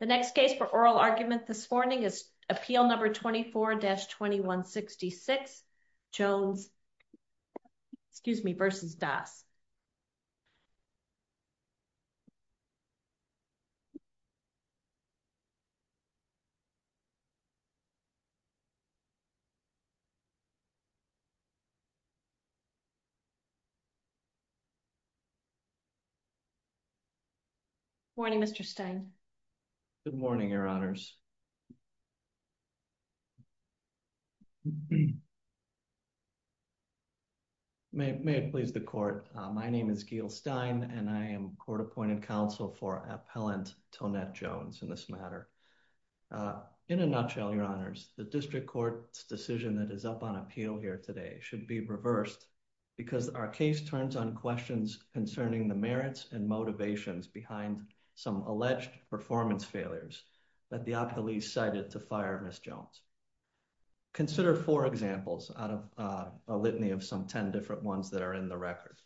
The next case for oral argument this morning is Appeal No. 24-2166, Jones v. Das. Good morning, Mr. Stein. Good morning, Your Honors. May it please the Court, my name is Gil Stein and I am Court Appointed Counsel for Appellant Tonette Jones in this matter. In a nutshell, Your Honors, the District Court's decision that is up on appeal here today should be reversed because our case turns on questions concerning the merits and motivations behind some alleged performance failures that the appealee cited to fire Ms. Jones. Consider four examples out of a litany of some 10 different ones that are in the record.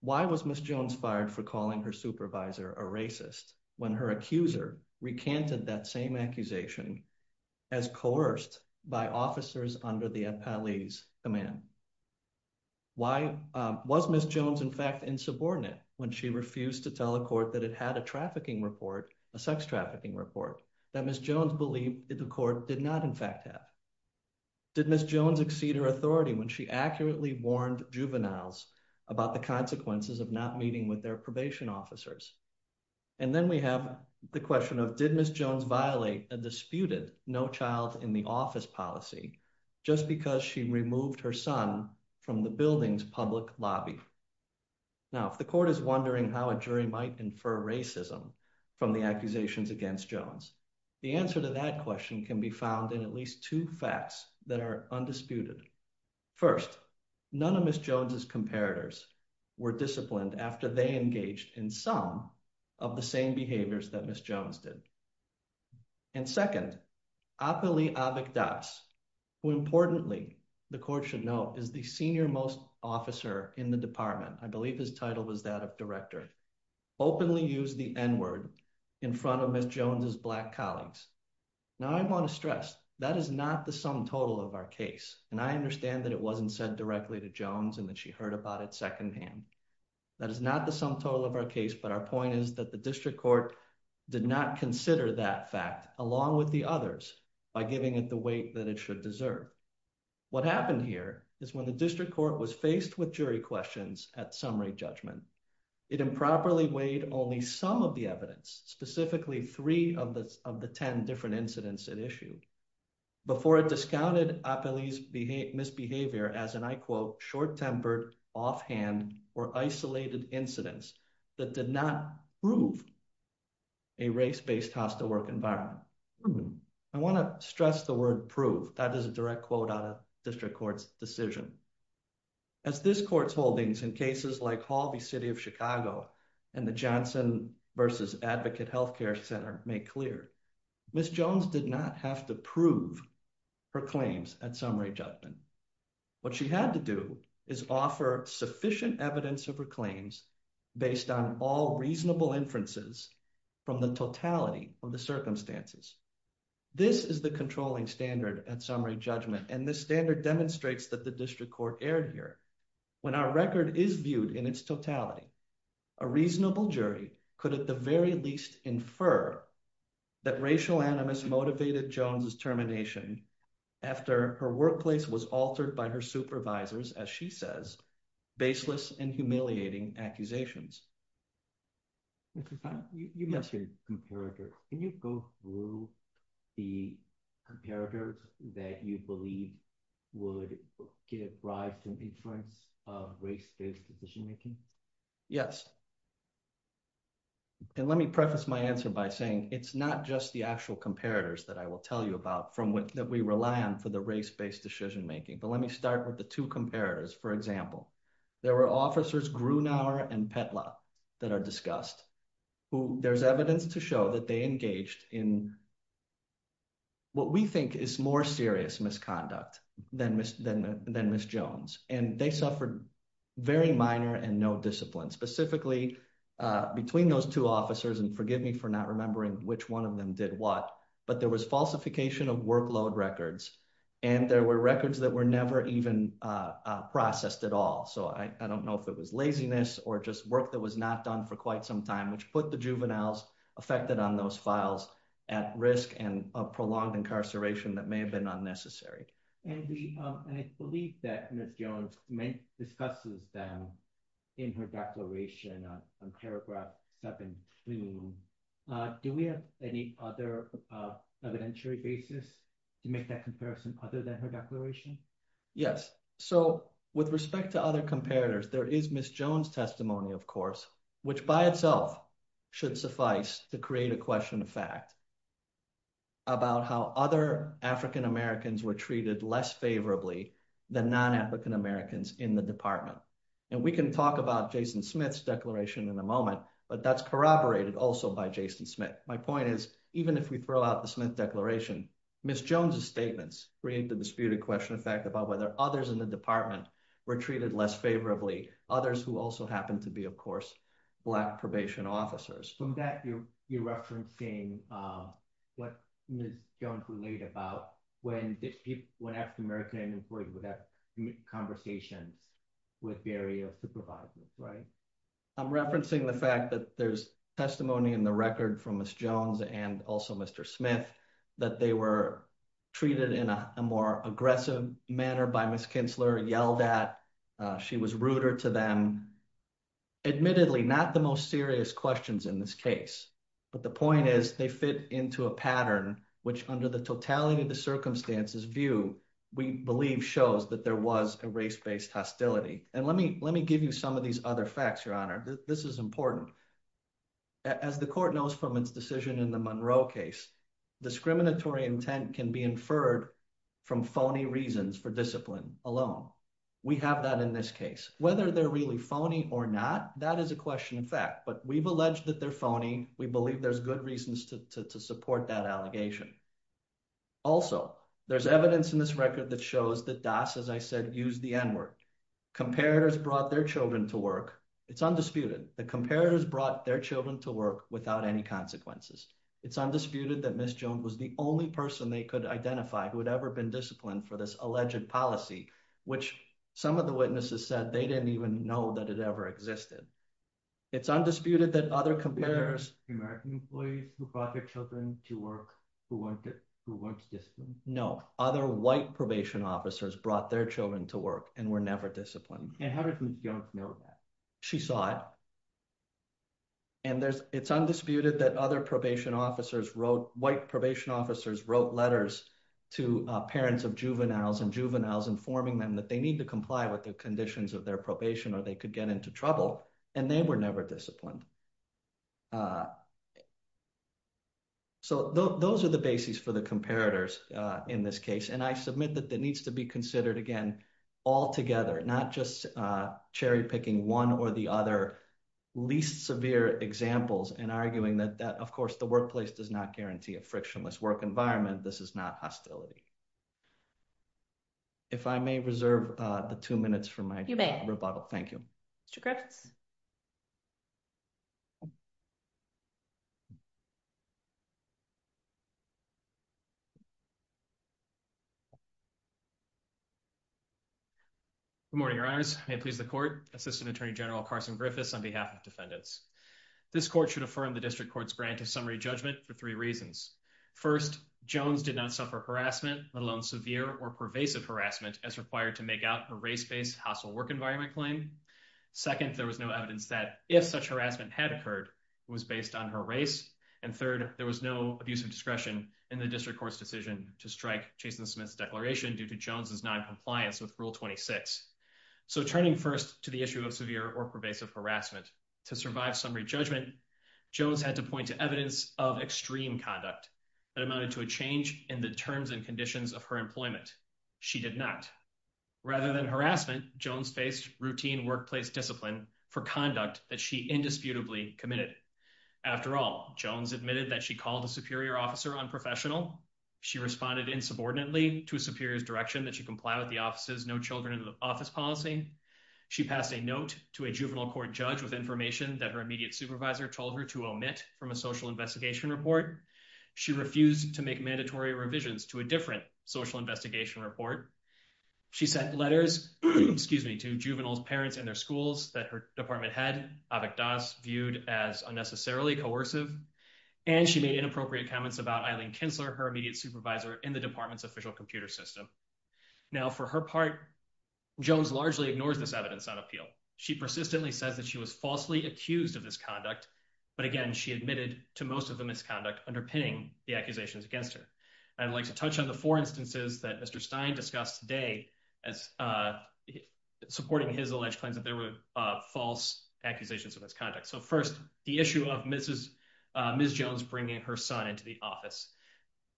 Why was Ms. Jones fired for calling her supervisor a racist when her accuser recanted that same accusation as coerced by officers under the appellee's command? Why was Ms. Jones in fact insubordinate when she refused to tell a court that it had a trafficking report, a sex trafficking report, that Ms. Jones believed that the court did not in fact have? Did Ms. Jones exceed her authority when she accurately warned juveniles about the consequences of not meeting with their probation officers? And then we have the question of did Ms. Jones violate a disputed no-child-in-the-office policy just because she removed her son from the building's public lobby? Now, if the court is wondering how a jury might infer racism from the accusations against Jones, the answer to that question can be found in at least two facts that are undisputed. First, none of Ms. Jones' comparators were disciplined after they engaged in some of the same behaviors that Ms. Jones did. And second, Appali Avikdas, who importantly the court should note is the senior most officer in the department, I believe his title was that of director, openly used the N-word in front of Ms. Jones' Black colleagues. Now, I want to stress that is not the sum total of our case, and I understand that it wasn't said directly to Jones and that she heard about it secondhand. That is not the sum total of our case, but our point is that the district court did not consider that fact along with the others by giving it the weight that it should deserve. What happened here is when the district court was faced with jury questions at summary judgment, it improperly weighed only some of the evidence, specifically three of the 10 different incidents at issue, before it discounted Appali's misbehavior as an, I quote, or isolated incidents that did not prove a race-based hostile work environment. I want to stress the word prove, that is a direct quote out of district court's decision. As this court's holdings in cases like Hall v. City of Chicago and the Johnson v. Advocate Health Care Center make clear, Ms. Jones did not have to prove her claims at summary judgment. What she had to do is offer sufficient evidence of her claims based on all reasonable inferences from the totality of the circumstances. This is the controlling standard at summary judgment, and this standard demonstrates that the district court erred here. When our record is viewed in its totality, a reasonable jury could at the very least infer that racial animus motivated Jones's termination after her workplace was altered by her supervisors, as she says, baseless and humiliating accusations. Mr. Stein, you mentioned comparators. Can you go through the comparators that you believe would give rise to an inference of race-based decision making? Yes. And let me preface my answer by saying it's not just the actual comparators that I will tell you about that we rely on for the race-based decision making, but let me start with the two comparators. For example, there were officers Grunauer and Petla that are discussed, who there's evidence to show that they engaged in what we think is more serious misconduct than Ms. Jones, and they suffered very minor and no discipline. Specifically, between those two officers, and forgive me for not remembering which one of them did what, but there was falsification of workload records, and there were records that were never even processed at all. So I don't know if it was laziness or just work that was not done for quite some time, which put the juveniles affected on those files at risk and a prolonged incarceration that may have been unnecessary. And I believe that Ms. Jones discusses them in her declaration on paragraph 17. Do we have any other evidentiary basis to make that comparison other than her declaration? Yes. So with respect to other comparators, there is Ms. Jones' testimony, of course, which by itself should suffice to create a question of fact about how other African Americans were treated less favorably than non-African Americans in the department. And we can talk about Jason Smith's declaration in a moment, but that's corroborated also by Jason Smith. My point is, even if we throw out the Smith declaration, Ms. Jones' statements bring into dispute a question of fact about whether others in the department were treated less favorably, others who also happened to be, of course, Black probation officers. From that, you're referencing what Ms. Jones related about when African Americans would have conversations with various supervisors, right? I'm referencing the fact that there's testimony in the record from Ms. Jones and also Mr. Smith that they were treated in a more aggressive manner by Ms. Kintzler, yelled at, she was ruder to them. Admittedly, not the most serious questions in this case, but the point is they fit into a pattern, which under the totality of the circumstances view, we believe shows that there was a race-based hostility. And let me give you some of these other facts, Your Honor. This is important. As the court knows from its decision in the Monroe case, discriminatory intent can be inferred from phony reasons for discipline alone. We have that in this case. Whether they're really phony or not, that is a question of fact, but we've alleged that they're phony. We believe there's good reasons to support that allegation. Also, there's evidence in this record that shows that DAS, as I said, used the N-word. Comparators brought their children to work. It's undisputed. The comparators brought their children to work without any consequences. It's undisputed that Ms. Jones was the only person they could identify who had ever been disciplined for this alleged policy, which some of the witnesses said they didn't even know that it ever existed. It's undisputed that other comparators... American employees who brought their children to work who weren't disciplined? No. Other white probation officers brought their children to work and were never disciplined. And how did Ms. Jones know that? She saw it. And it's undisputed that white probation officers wrote letters to parents of juveniles and juveniles informing them that they need to comply with the conditions of their probation or they could get into trouble. And they were never disciplined. So those are the bases for the comparators in this case, and I submit that that needs to be considered again altogether, not just cherry-picking one or the other least severe examples and arguing that, of course, the workplace does not guarantee a frictionless work environment. This is not hostility. If I may reserve the two minutes for my rebuttal. Thank you. Mr. Griffiths. Good morning, your honors. May it please the court. Assistant Attorney General Carson Griffiths on behalf of defendants. This court should affirm the district court's grant of summary judgment for three reasons. First, Jones did not suffer harassment, let alone severe or pervasive harassment as required to make out a race-based hostile work environment claim. Second, there was no evidence that if such harassment had occurred, it was based on her race. And third, there was no abuse of discretion in the district court's decision to strike Jason Smith's declaration due to Jones's noncompliance with Rule 26. So turning first to the issue of severe or pervasive harassment, to survive summary judgment, Jones had to point to evidence of extreme conduct that amounted to a change in the terms and conditions of her employment. She did not. Rather than harassment, Jones faced routine workplace discipline for conduct that she indisputably committed. After all, Jones admitted that she called a superior officer unprofessional. She responded insubordinately to a superior's direction that she comply with the office's no children in the office policy. She passed a note to a juvenile court judge with information that her immediate supervisor told her to omit from a social investigation report. She refused to make mandatory revisions to a different social investigation report. She sent letters to juveniles' parents and their schools that her department head, Avik Das, viewed as unnecessarily coercive. And she made inappropriate comments about Eileen Kinsler, her immediate supervisor in the department's official computer system. Now, for her part, Jones largely ignores this evidence on appeal. She persistently says that she was falsely accused of this conduct, but again, she admitted to most of the misconduct, underpinning the accusations against her. I'd like to touch on the four instances that Mr. Stein discussed today, supporting his alleged claims that there were false accusations of this conduct. So first, the issue of Ms. Jones bringing her son into the office.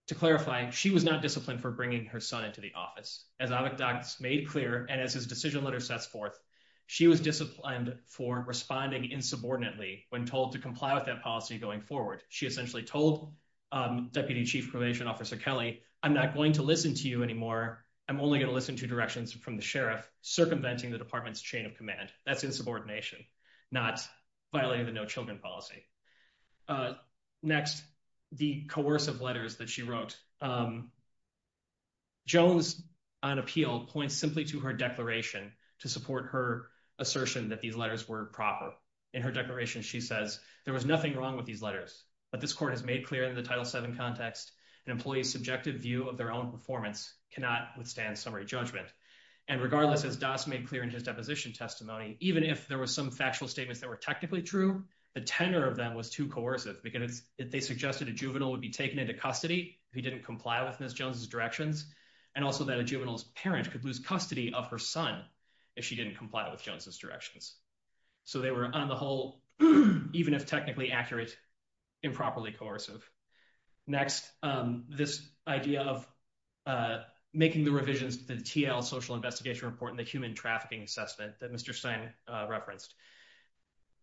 To clarify, she was not disciplined for bringing her son into the office. As Avik Das made clear, and as his decision letter sets forth, she was disciplined for responding insubordinately when told to comply with that policy going forward. She essentially told Deputy Chief Probation Officer Kelly, I'm not going to listen to you anymore. I'm only going to listen to directions from the sheriff circumventing the department's chain of command. That's insubordination, not violating the no children policy. Next, the coercive letters that she wrote. Jones, on appeal, points simply to her declaration to support her assertion that these letters were proper. In her declaration, she says, there was nothing wrong with these letters, but this court has made clear in the Title VII context, an employee's subjective view of their own performance cannot withstand summary judgment. And regardless, as Das made clear in his deposition testimony, even if there were some factual statements that were technically true, the tenor of them was too coercive because they suggested a juvenile would be taken into custody if he didn't comply with Ms. Jones' directions, and also that a juvenile's parent could lose custody of her son if she didn't comply with Jones' directions. So they were, on the whole, even if technically accurate, improperly coercive. Next, this idea of making the revisions to the TL social investigation report and the human trafficking assessment that Mr. Stein referenced.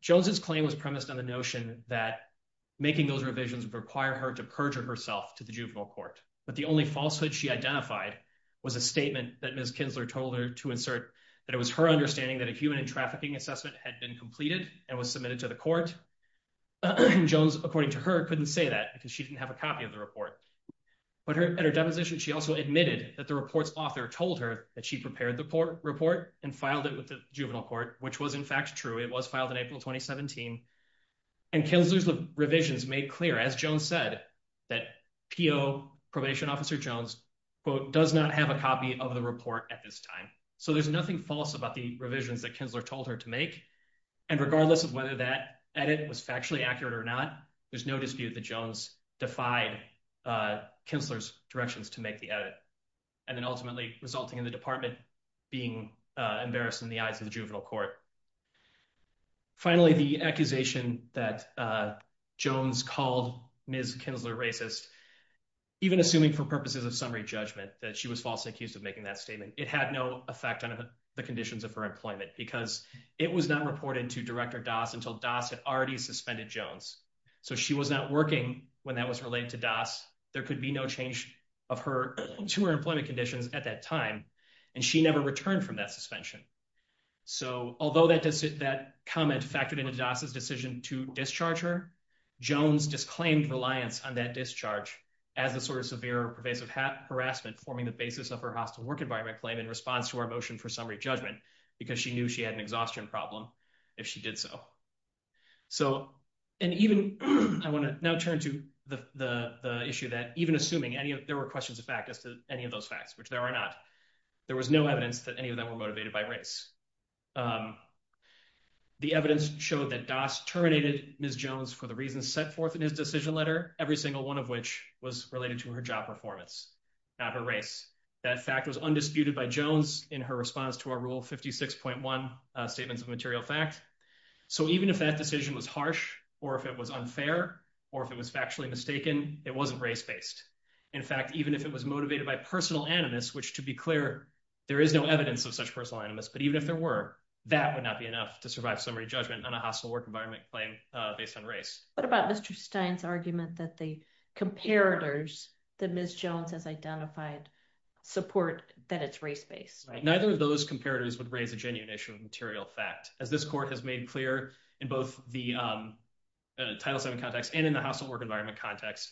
Jones' claim was premised on the notion that making those revisions would require her to perjure herself to the juvenile court. But the only falsehood she identified was a statement that Ms. Kinsler told her to insert, that it was her understanding that a human trafficking assessment had been completed and was submitted to the court. Jones, according to her, couldn't say that because she didn't have a copy of the report. But at her deposition, she also admitted that the report's author told her that she prepared the report and filed it with the juvenile court, which was in fact true. It was filed in April 2017. And Kinsler's revisions made clear, as Jones said, that PO, Probation Officer Jones, quote, does not have a copy of the report at this time. There's nothing false about the revisions that Kinsler told her to make. And regardless of whether that edit was factually accurate or not, there's no dispute that Jones defied Kinsler's directions to make the edit. And then ultimately resulting in the department being embarrassed in the eyes of the juvenile court. Finally, the accusation that Jones called Ms. Kinsler racist, even assuming for purposes of summary judgment that she was falsely accused of making that statement, it had no effect on the conditions of her employment because it was not reported to Director Doss until Doss had already suspended Jones. So she was not working when that was related to Doss. There could be no change to her employment conditions at that time. And she never returned from that suspension. So although that comment factored into Doss's decision to discharge her, Jones disclaimed reliance on that discharge as a sort of severe pervasive harassment, forming the basis of her hostile work environment claim in response to our motion for summary judgment because she knew she had an exhaustion problem if she did so. So, and even I want to now turn to the issue that even assuming any of there were questions of fact as to any of those facts, which there are not, there was no evidence that any of them were motivated by race. The evidence showed that Doss terminated Ms. Jones for the reasons set forth in his decision letter, every single one of which was related to her job performance, not her race. That fact was undisputed by Jones in her response to our Rule 56.1 statements of material fact. So even if that decision was harsh, or if it was unfair, or if it was factually mistaken, it wasn't race based. In fact, even if it was motivated by personal animus, which to be clear, there is no evidence of such personal animus, but even if there were, that would not be enough to survive summary judgment on a hostile work environment claim based on race. What about Mr. Stein's argument that the comparators that Ms. Jones has identified support that it's race based? Neither of those comparators would raise a genuine issue of material fact. As this court has made clear in both the Title VII context and in the hostile work environment context,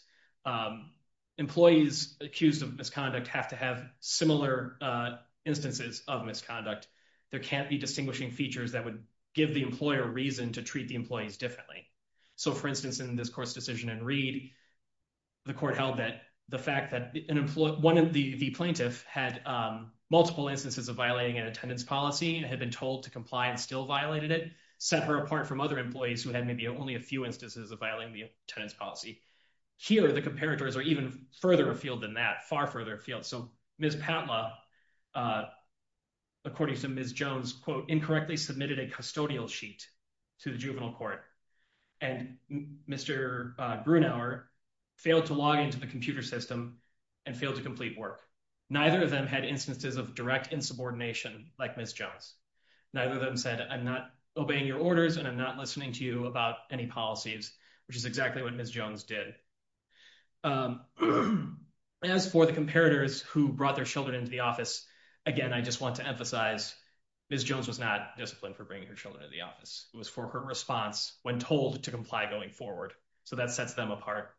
employees accused of misconduct have to have similar instances of misconduct. There can't be distinguishing features that would give the employer reason to treat the employees differently. So, for instance, in this court's decision in Reed, the court held that the fact that the plaintiff had multiple instances of violating an attendance policy and had been told to comply and still violated it, set her apart from other employees who had maybe only a few instances of violating the attendance policy. Here, the comparators are even further afield than that, far further afield. So, Ms. Patla, according to Ms. Jones, quote, incorrectly submitted a custodial sheet to the juvenile court, and Mr. Brunauer failed to log into the computer system and failed to complete work. Neither of them had instances of direct insubordination like Ms. Jones. Neither of them said, I'm not obeying your orders and I'm not listening to you about any policies, which is exactly what Ms. Jones did. As for the comparators who brought their children into the office, again, I just want to emphasize Ms. Jones was not disciplined for bringing her children to the office. It was for her response when told to comply going forward. So that sets them apart.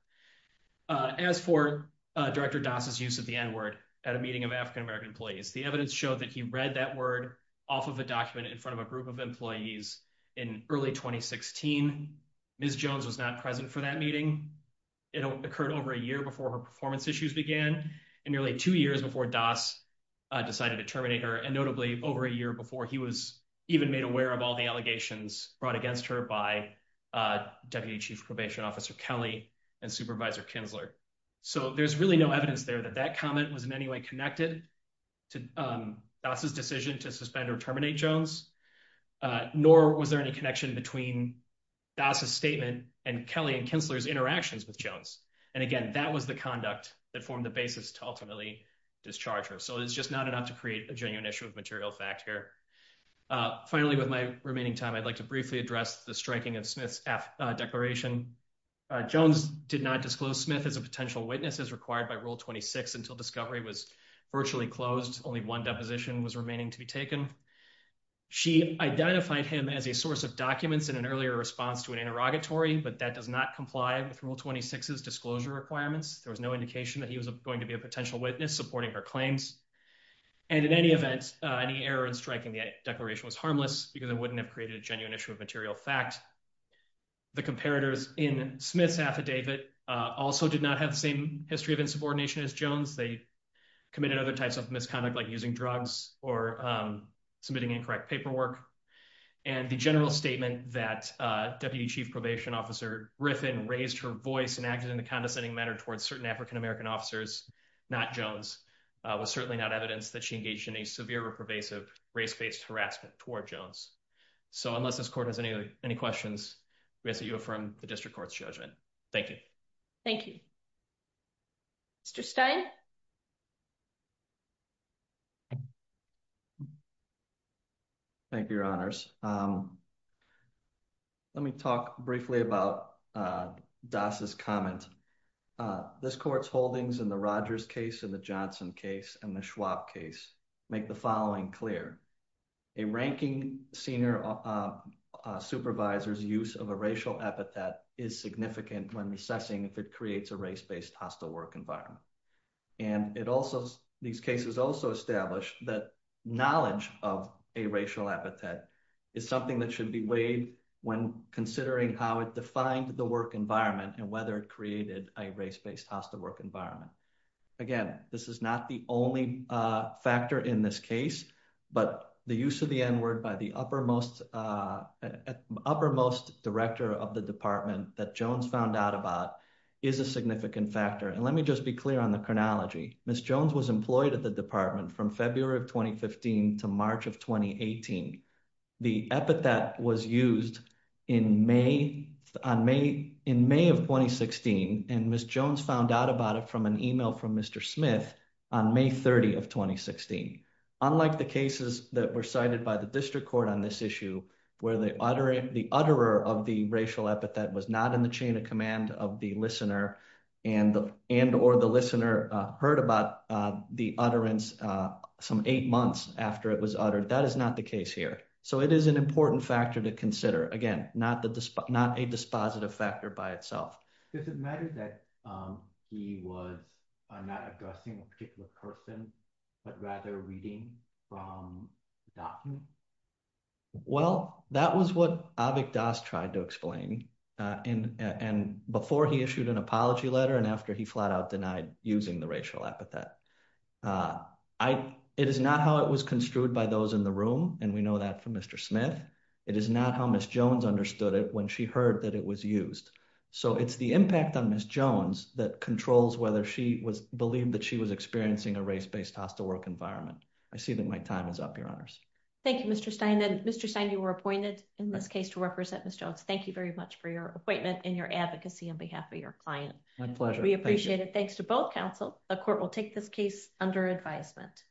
As for Director Das' use of the N-word at a meeting of African American employees, the evidence showed that he read that word off of a document in front of a group of employees in early 2016. Ms. Jones was not present for that meeting. It occurred over a year before her performance issues began, and nearly two years before Das decided to terminate her, and notably over a year before he was even made aware of all the allegations brought against her by Deputy Chief Probation Officer Kelly and Supervisor Kinsler. So there's really no evidence there that that comment was in any way connected to Das' decision to suspend or terminate Jones. Nor was there any connection between Das' statement and Kelly and Kinsler's interactions with Jones. And again, that was the conduct that formed the basis to ultimately discharge her. So it's just not enough to create a genuine issue of material fact here. Finally, with my remaining time, I'd like to briefly address the striking of Smith's F declaration. Jones did not disclose Smith as a potential witness as required by Rule 26 until discovery was virtually closed. Only one deposition was remaining to be taken. She identified him as a source of documents in an earlier response to an interrogatory, but that does not comply with Rule 26's disclosure requirements. There was no indication that he was going to be a potential witness supporting her claims. And in any event, any error in striking the declaration was harmless because it wouldn't have created a genuine issue of material fact. The comparators in Smith's affidavit also did not have the same history of insubordination as Jones. They committed other types of misconduct like using drugs or submitting incorrect paperwork. And the general statement that Deputy Chief Probation Officer Griffin raised her voice and acted in a condescending manner towards certain African American officers, not Jones, was certainly not evidence that she engaged in a severe or pervasive race-based harassment toward Jones. So unless this court has any questions, we ask that you affirm the District Court's judgment. Thank you. Thank you. Mr. Stein? Thank you, Your Honors. Let me talk briefly about Das' comment. This court's holdings in the Rogers case and the Johnson case and the Schwab case make the following clear. A ranking senior supervisor's use of a racial epithet is significant when assessing if it creates a race-based hostile work environment. And these cases also establish that knowledge of a racial epithet is something that should be weighed when considering how it defined the work environment and whether it created a race-based hostile work environment. Again, this is not the only factor in this case, but the use of the N-word by the uppermost director of the department that Jones found out about is a significant factor. And let me just be clear on the chronology. Ms. Jones was employed at the department from February of 2015 to March of 2018. The epithet was used in May of 2016, and Ms. Jones found out about it from an email from Mr. Smith on May 30 of 2016. Unlike the cases that were cited by the district court on this issue, where the utterer of the racial epithet was not in the chain of command of the listener and or the listener heard about the utterance some eight months after it was uttered, that is not the case here. So it is an important factor to consider. Again, not a dispositive factor by itself. Does it matter that he was not addressing a particular person, but rather reading from a document? Well, that was what Avik Das tried to explain before he issued an apology letter and after he flat out denied using the racial epithet. It is not how it was construed by those in the room, and we know that from Mr. Smith. It is not how Ms. Jones understood it when she heard that it was used. So it's the impact on Ms. Jones that controls whether she was believed that she was experiencing a race-based hostile work environment. I see that my time is up, Your Honors. Thank you, Mr. Stein. Mr. Stein, you were appointed in this case to represent Ms. Jones. Thank you very much for your appointment and your advocacy on behalf of your client. My pleasure. We appreciate it. Thanks to both counsel. The court will take this case under advisement.